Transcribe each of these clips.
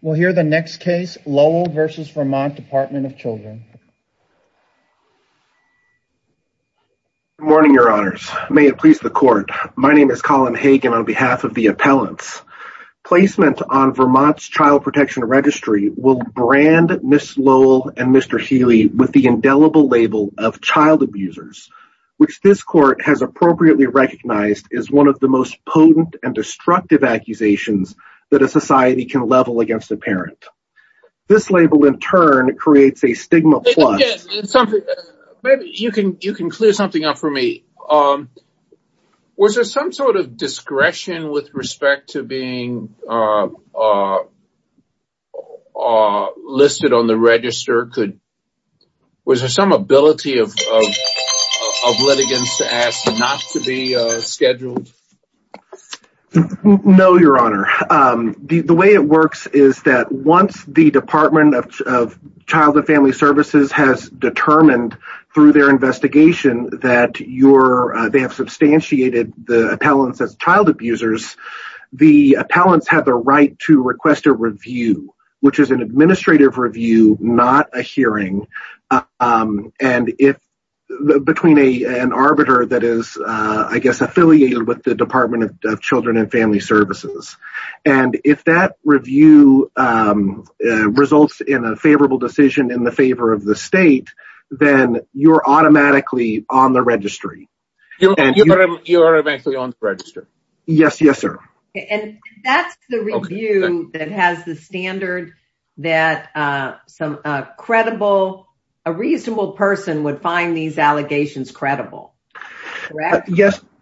We'll hear the next case, Lowell v. Vermont Department of Children. Good morning, your honors. May it please the court. My name is Colin Hagen on behalf of the appellants. Placement on Vermont's Child Protection Registry will brand Ms. Lowell and Mr. Healy with the indelible label of child abusers, which this court has appropriately recognized as one of the potent and destructive accusations that a society can level against a parent. This label, in turn, creates a stigma... You can clear something up for me. Was there some sort of discretion with respect to being listed on the register? Was there some ability of litigants to ask not to be scheduled? No, your honor. The way it works is that once the Department of Child and Family Services has determined through their investigation that they have substantiated the appellants as child abusers, the appellants have the right to request a review, which is an administrative review, not a hearing. It's between an arbiter that is, I guess, affiliated with the Department of Children and Family Services. If that review results in a favorable decision in the favor of the state, then you're automatically on the registry. You are eventually on the registry? Yes, yes, sir. That's the review that has the standard that a reasonable person would find these allegations credible, correct?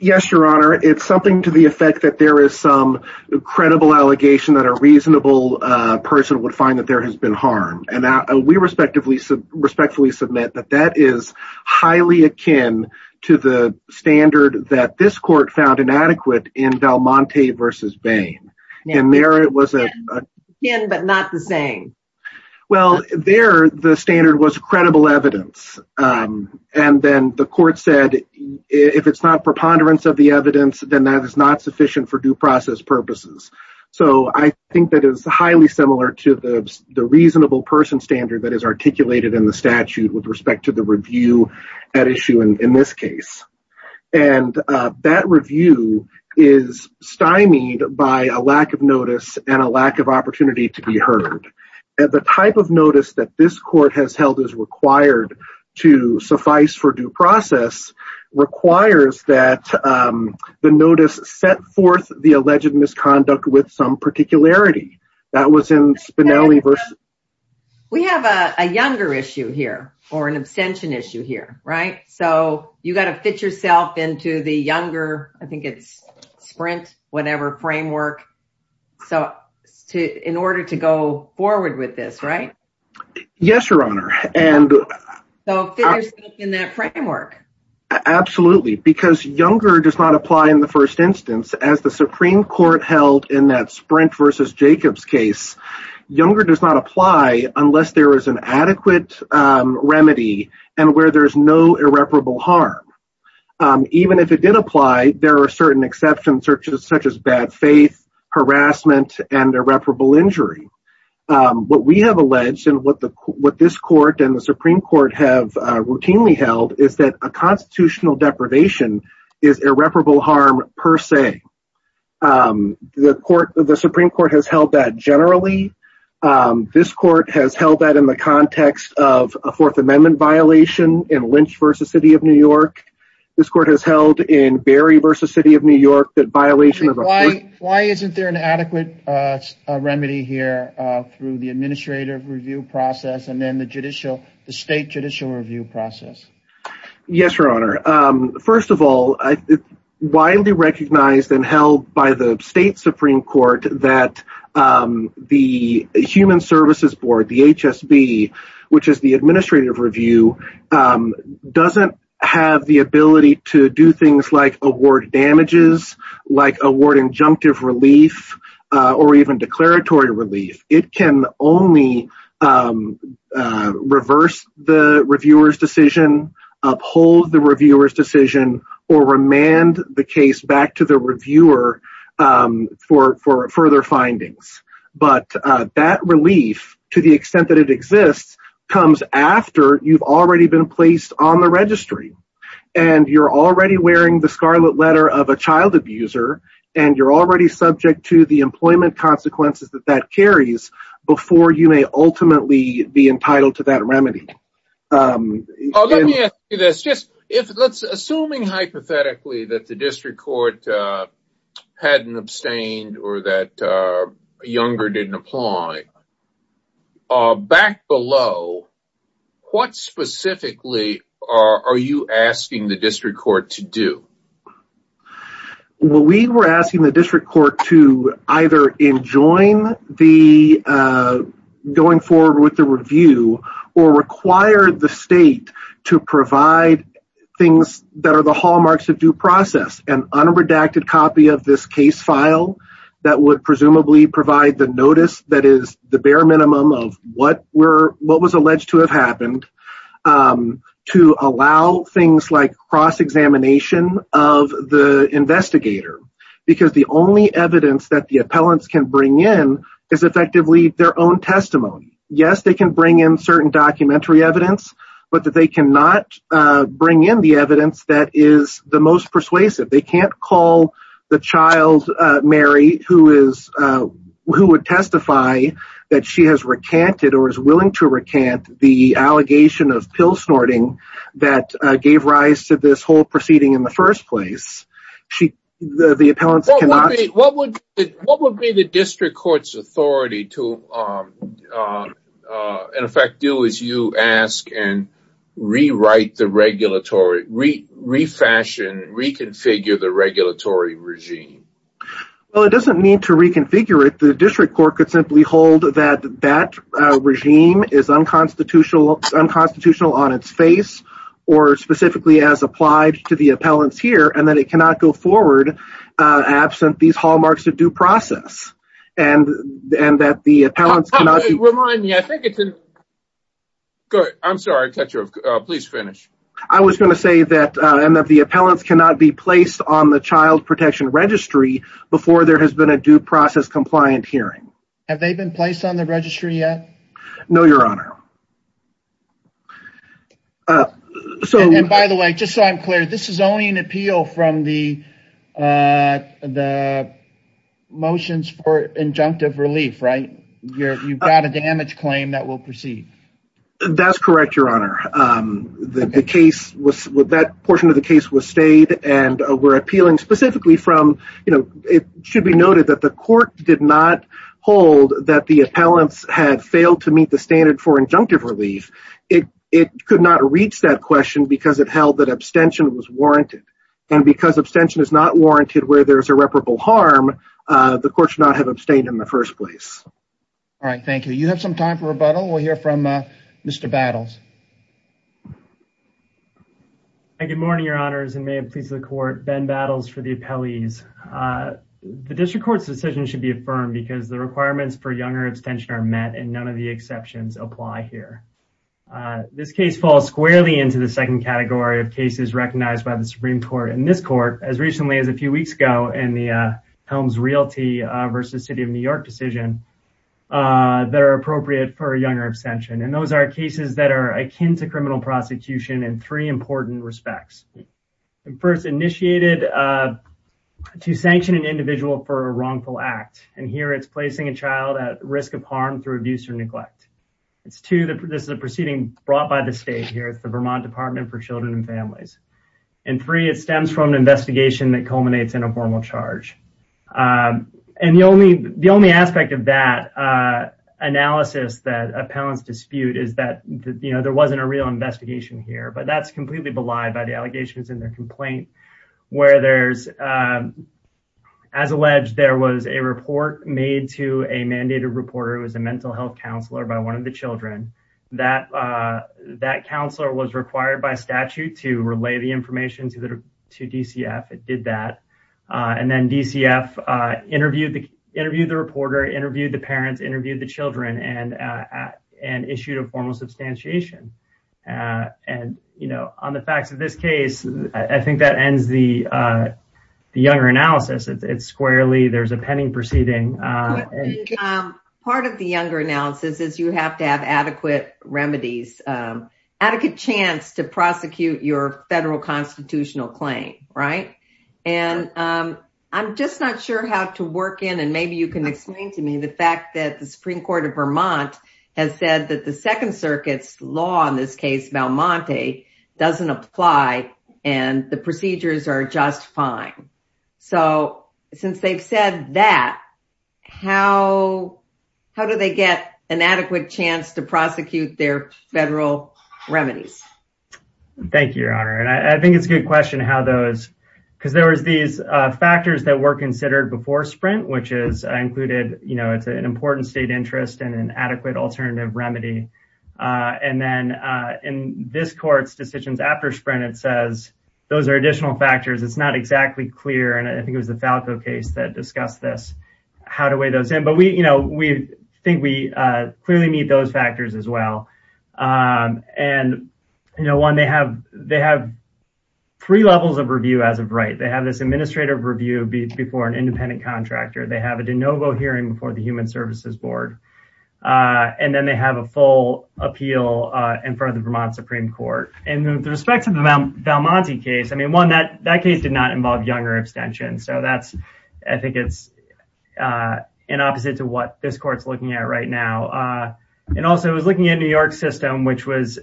Yes, your honor. It's something to the effect that there is some credible allegation that a reasonable person would find that there has been harm. We respectfully submit that that is highly akin to the standard that this court found inadequate in Valmonte v. Bain. And there it was akin but not the same. Well, there the standard was credible evidence. And then the court said, if it's not preponderance of the evidence, then that is not sufficient for due process purposes. So I think that is highly similar to the reasonable person standard that is articulated in the statute with respect to the review at issue in this case. And that review is stymied by a lack of notice and a lack of opportunity to be heard. The type of notice that this court has held is required to suffice for due process requires that the notice set forth the alleged misconduct with some particularity. That was in Spinelli v. We have a younger issue here or an abstention issue here, right? So you got to fit yourself into the younger, I think it's sprint, whatever framework. So in order to go forward with this, right? Yes, your honor. And so in that framework. Absolutely. Because younger does not apply in the first instance as the Supreme Court held in that Sprint v. Jacobs case. Younger does not apply unless there is an adequate remedy and where there's no irreparable harm. Even if it did apply, there are certain exceptions such as bad faith, harassment, and irreparable injury. What we have alleged and what this court and the Supreme Court have routinely held is that a constitutional deprivation is irreparable harm per se. The court, the Supreme Court has held that generally. This court has held that in the context of a Fourth Amendment violation in Lynch v. City of New York. This court has held in Barry v. City of New York that violation of why, why isn't there an adequate remedy here through the administrative review process and then the judicial, the state judicial review process? Yes, your honor. First of all, widely recognized and held by the state Supreme Court that the Human Services Board, the HSB, which is the administrative review, doesn't have the ability to do things like award damages, like award injunctive relief, or even declaratory relief. It can only reverse the reviewer's decision, uphold the reviewer's decision, or remand the case back to the reviewer for further findings. But that relief to the extent that it exists comes after you've already been placed on the registry and you're already wearing the scarlet letter of a child abuser and you're already subject to the employment consequences that carries before you may ultimately be entitled to that remedy. Let me ask you this. Assuming hypothetically that the district court hadn't abstained or that Younger didn't apply, back below, what specifically are you asking the district court to do? We were asking the district court to either enjoin going forward with the review or require the state to provide things that are the hallmarks of due process, an unredacted copy of this case file that would presumably provide the notice that is the bare minimum of what was alleged to have happened, to allow things like cross bring in is effectively their own testimony. Yes, they can bring in certain documentary evidence, but that they cannot bring in the evidence that is the most persuasive. They can't call the child, Mary, who would testify that she has recanted or is willing to recant the allegation of pill snorting that gave rise to this whole proceeding in the first place. What would be the district court's authority to in effect do as you ask and rewrite the regulatory, refashion, reconfigure the regulatory regime? Well, it doesn't mean to reconfigure it. The district court could simply hold that that regime is unconstitutional on its face or specifically as applied to the appellants and that it cannot go forward absent these hallmarks of due process. I was going to say that the appellants cannot be placed on the child protection registry before there has been a due process compliant hearing. Have they been placed on the registry yet? No, your honor. And by the way, just so I'm clear, this is only an appeal from the motions for injunctive relief, right? You've got a damage claim that will proceed. That's correct, your honor. That portion of the case was stayed and we're appealing specifically from, you know, it should be noted that the court did not hold that the appellants had failed to receive injunctive relief. It could not reach that question because it held that abstention was warranted. And because abstention is not warranted where there's irreparable harm, the court should not have abstained in the first place. All right, thank you. You have some time for rebuttal. We'll hear from Mr. Battles. Hi, good morning, your honors and may it please the court. Ben Battles for the appellees. The district court's decision should be affirmed because the requirements for the exceptions apply here. This case falls squarely into the second category of cases recognized by the Supreme Court and this court as recently as a few weeks ago in the Helms Realty versus City of New York decision that are appropriate for a younger abstention. And those are cases that are akin to criminal prosecution in three important respects. First, initiated to sanction an individual for a wrongful act. And here it's placing a child at of harm through abuse or neglect. It's two, this is a proceeding brought by the state here at the Vermont Department for Children and Families. And three, it stems from an investigation that culminates in a formal charge. And the only aspect of that analysis that appellants dispute is that, you know, there wasn't a real investigation here, but that's completely belied by the allegations in their complaint where there's, as alleged, there was a report made to a mandated reporter who was a mental health counselor by one of the children. That counselor was required by statute to relay the information to DCF. It did that. And then DCF interviewed the reporter, interviewed the parents, interviewed the children, and issued a formal substantiation. And, you know, on the facts of this case, I think that ends the younger analysis. It's squarely, there's a pending proceeding. Part of the younger analysis is you have to have adequate remedies, adequate chance to prosecute your federal constitutional claim, right? And I'm just not sure how to work in, and maybe you can explain to me the fact that the Supreme Court of Vermont has said that the Second Circuit's law, in this case, Valmonte, doesn't apply and the procedures are just fine. So since they've said that, how do they get an adequate chance to prosecute their federal remedies? Thank you, Your Honor. And I think it's a good question how those, because there was these factors that were considered before Sprint, which is included, you know, it's an important interest and an adequate alternative remedy. And then in this court's decisions after Sprint, it says those are additional factors. It's not exactly clear, and I think it was the Falco case that discussed this, how to weigh those in. But we, you know, we think we clearly meet those factors as well. And, you know, one, they have three levels of review as of right. They have this administrative review before an independent contractor. They have a de novo hearing before the Human Services Board. And then they have a full appeal in front of the Vermont Supreme Court. And with respect to the Valmonte case, I mean, one, that case did not involve younger extension. So that's, I think it's in opposite to what this court's looking at right now. And also, it was looking at New York system, which was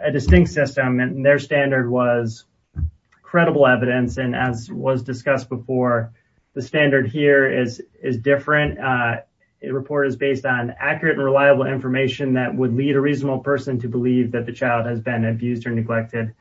a distinct system and their standard was before. The standard here is different. It report is based on accurate and reliable information that would lead a reasonable person to believe that the child has been abused or neglected.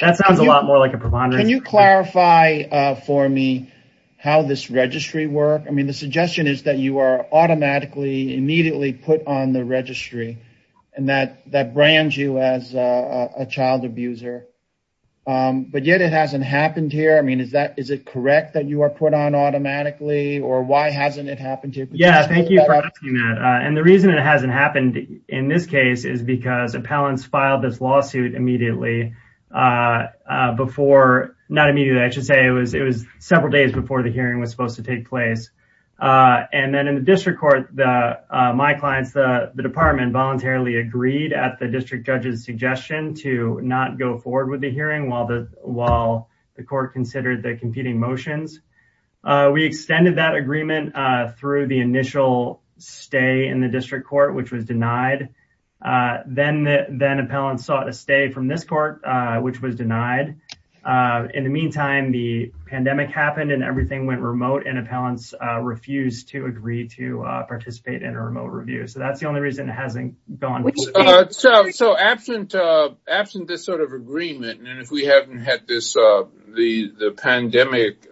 That sounds a lot more like a preponderance. Can you clarify for me how this registry work? I mean, the suggestion is that you are automatically immediately put on the registry and that brands you as a child abuser, but yet it hasn't happened here. I mean, is that, is it correct that you are put on automatically or why hasn't it happened to you? Yeah, thank you for asking that. And the reason it hasn't happened in this case is because appellants filed this lawsuit immediately before, not immediately, I should say it was several days before the hearing was supposed to take place. And then in the district court, my clients, the department voluntarily agreed at the district judge's suggestion to not go forward with the hearing while the court considered the competing motions. We extended that agreement through the initial stay in the district court, which was denied. Then appellants sought a stay from this court, which was denied. In the meantime, the pandemic happened and everything went remote and appellants refused to agree to participate in a remote review. So that's the only reason it hasn't gone. So absent this sort of agreement, and if we haven't had the pandemic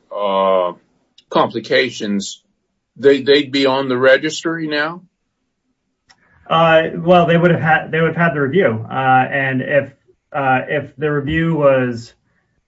complications, they'd be on the registry now? Well, they would have had the review. And if the review was,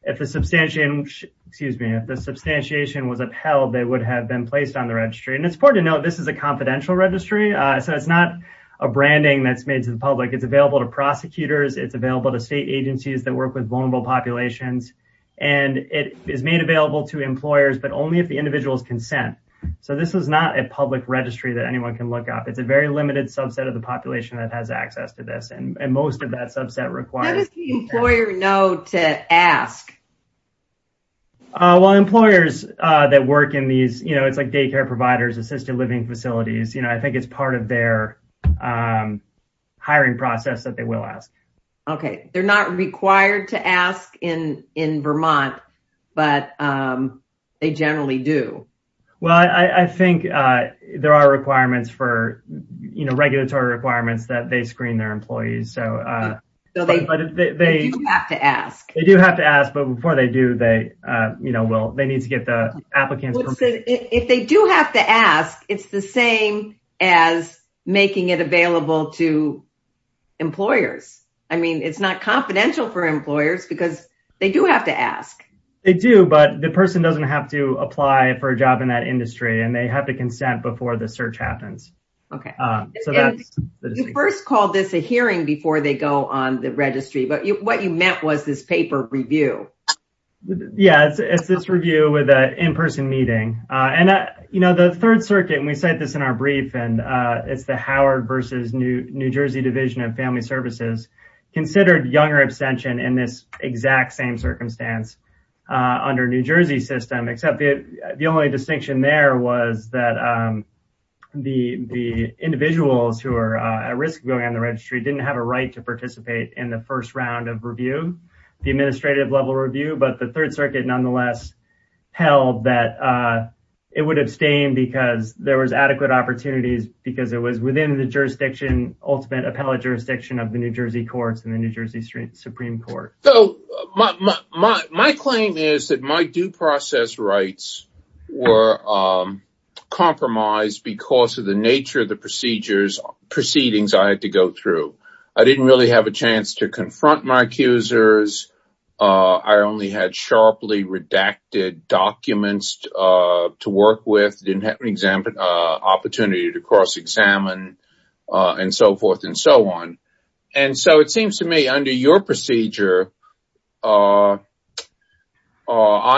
if the substantiation, excuse me, if the substantiation was upheld, they would have been placed on the registry. And it's important to note, this is a confidential registry. So it's not a branding that's made to the public. It's available to prosecutors. It's available to state agencies that work with vulnerable populations. And it is made available to employers, but only if the individual's consent. So this is not a public registry that anyone can look up. It's a very limited subset of the population that has access to this. And most of that subset requires... How does the employer know to ask? Well, employers that work in these, it's like daycare providers, assisted living facilities, I think it's part of their hiring process that they will ask. Okay. They're not required to ask in Vermont, but they generally do. Well, I think there are requirements for, regulatory requirements that they screen their employees. They do have to ask. They do have to ask, but before they do, they will, they need to get the applicant... If they do have to ask, it's the same as making it available to employers. I mean, it's not confidential for employers because they do have to ask. They do, but the person doesn't have to apply for a job in that industry and they have to consent before the search happens. Okay. So that's the distinction. You first called this a hearing before they go on the registry, but what you meant was this paper review. Yeah, it's this review with an in-person meeting. And the Third Circuit, and we cite this in our brief, and it's the Howard versus New Jersey Division of Family Services, considered younger abstention in this exact same circumstance under New Jersey system, except the only distinction there was that the individuals who are at risk of going on the registry didn't have a right to participate in the first round of review, the administrative level review, but the Third Circuit nonetheless held that it would abstain because there was adequate opportunities, because it was within the jurisdiction, ultimate appellate jurisdiction of the New Jersey courts and the New Jersey Supreme Court. So my claim is that my due process rights were compromised because of the nature of the procedures, proceedings I had to go through. I didn't really have a chance to confront my accusers. I only had sharply redacted documents to work with, didn't have an opportunity to cross-examine and so forth and so on. And so it seems to me, under your procedure, I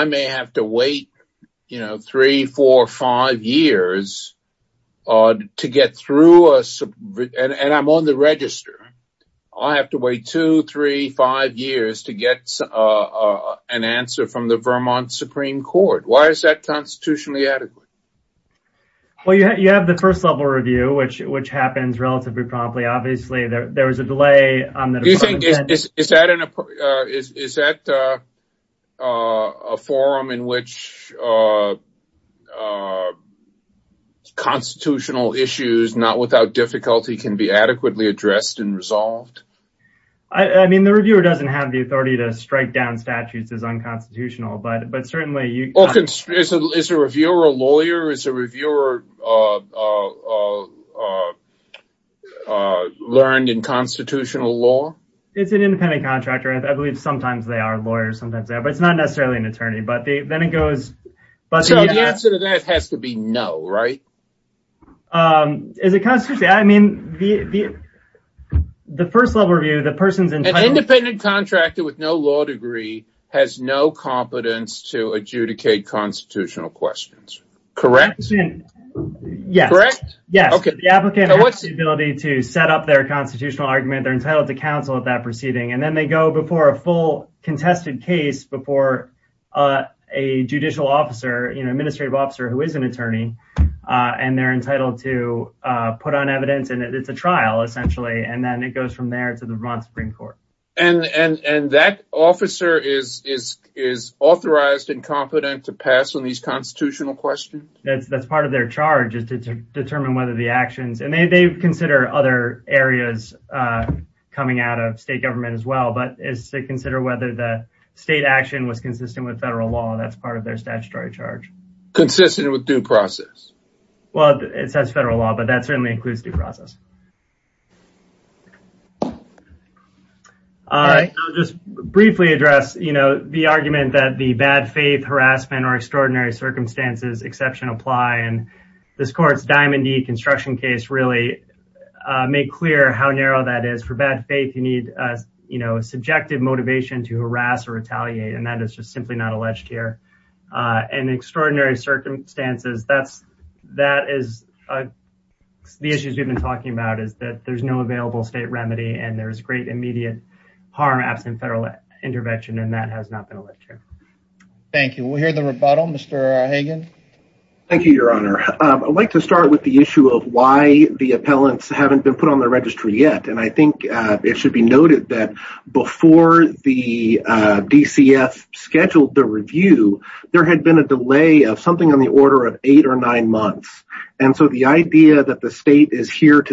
may have to wait, you know, three, four, five years to get through, and I'm on the register. I have to wait two, three, five years to get an answer from the Vermont Supreme Court. Why is that constitutionally adequate? Well, you have the first level review, which happens relatively promptly. Obviously, there was a delay on that. Is that a forum in which constitutional issues, not without difficulty, can be adequately addressed and resolved? I mean, the reviewer doesn't have the authority to strike down statutes as unconstitutional, but certainly... Is a reviewer a lawyer? Is a reviewer learned in constitutional law? It's an independent contractor. I believe sometimes they are lawyers, sometimes they are, but it's not necessarily an attorney. So the answer to that has to be no, right? Is it constitutional? I mean, the first level review, the person's entitled... to adjudicate constitutional questions, correct? Yes, correct. Yes, the applicant has the ability to set up their constitutional argument. They're entitled to counsel at that proceeding, and then they go before a full contested case before a judicial officer, you know, administrative officer who is an attorney, and they're entitled to put on evidence, and it's a trial, essentially, and then it goes from there to the Vermont Supreme Court. And that officer is authorized and competent to pass on these constitutional questions? That's part of their charge, is to determine whether the actions... And they consider other areas coming out of state government as well, but it's to consider whether the state action was consistent with federal law. That's part of their statutory charge. Consistent with due process? Well, it says federal law, that certainly includes due process. All right, I'll just briefly address, you know, the argument that the bad faith, harassment, or extraordinary circumstances, exception apply, and this court's Diamond D construction case really made clear how narrow that is. For bad faith, you need, you know, subjective motivation to harass or retaliate, and that is just simply not alleged here. And extraordinary circumstances, that is the issues we've been talking about, is that there's no available state remedy, and there's great immediate harm absent federal intervention, and that has not been alleged here. Thank you. We'll hear the rebuttal. Mr. Hagan? Thank you, Your Honor. I'd like to start with the issue of why the appellants haven't been put on the registry yet. And I think it should be noted that before the DCF scheduled the review, there to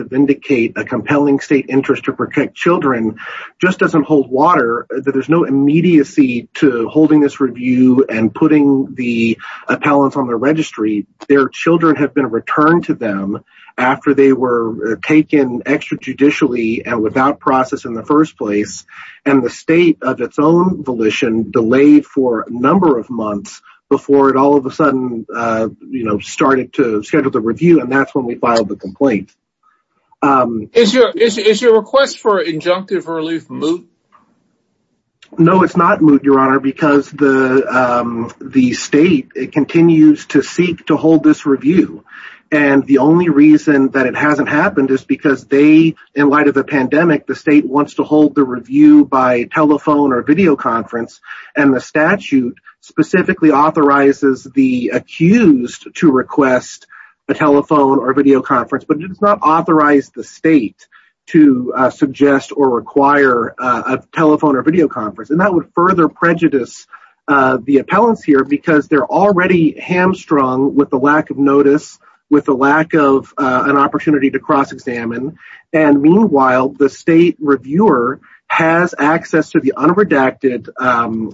vindicate a compelling state interest to protect children just doesn't hold water. There's no immediacy to holding this review and putting the appellants on the registry. Their children have been returned to them after they were taken extra judicially and without process in the first place. And the state of its own volition delayed for a number of months before it all of a sudden, you know, started to schedule the review, and that's when we filed the complaint. Is your request for injunctive relief moot? No, it's not moot, Your Honor, because the state continues to seek to hold this review. And the only reason that it hasn't happened is because they, in light of the pandemic, the state wants to hold the review by telephone or video conference, and the statute specifically authorizes the accused to request a telephone or video conference, but it does not authorize the state to suggest or require a telephone or video conference. And that would further prejudice the appellants here because they're already hamstrung with the lack of notice, with the lack of an opportunity to cross-examine. And meanwhile, the state reviewer has access to the unredacted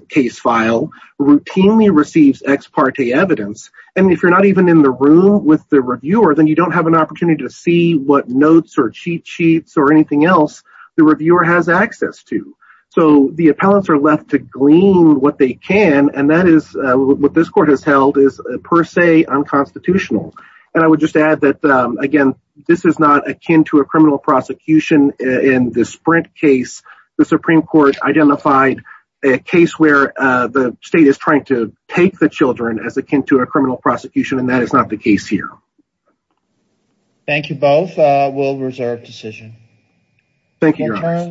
case file, routinely receives ex parte evidence, and if you're not even in the room with the reviewer, then you don't have an opportunity to see what notes or cheat sheets or anything else the reviewer has access to. So the appellants are left to glean what they can, and that is what this court has held is per se unconstitutional. And I would just add that, this is not akin to a criminal prosecution in the Sprint case. The Supreme Court identified a case where the state is trying to take the children as akin to a criminal prosecution, and that is not the case here. Thank you both. We'll reserve decision. Thank you.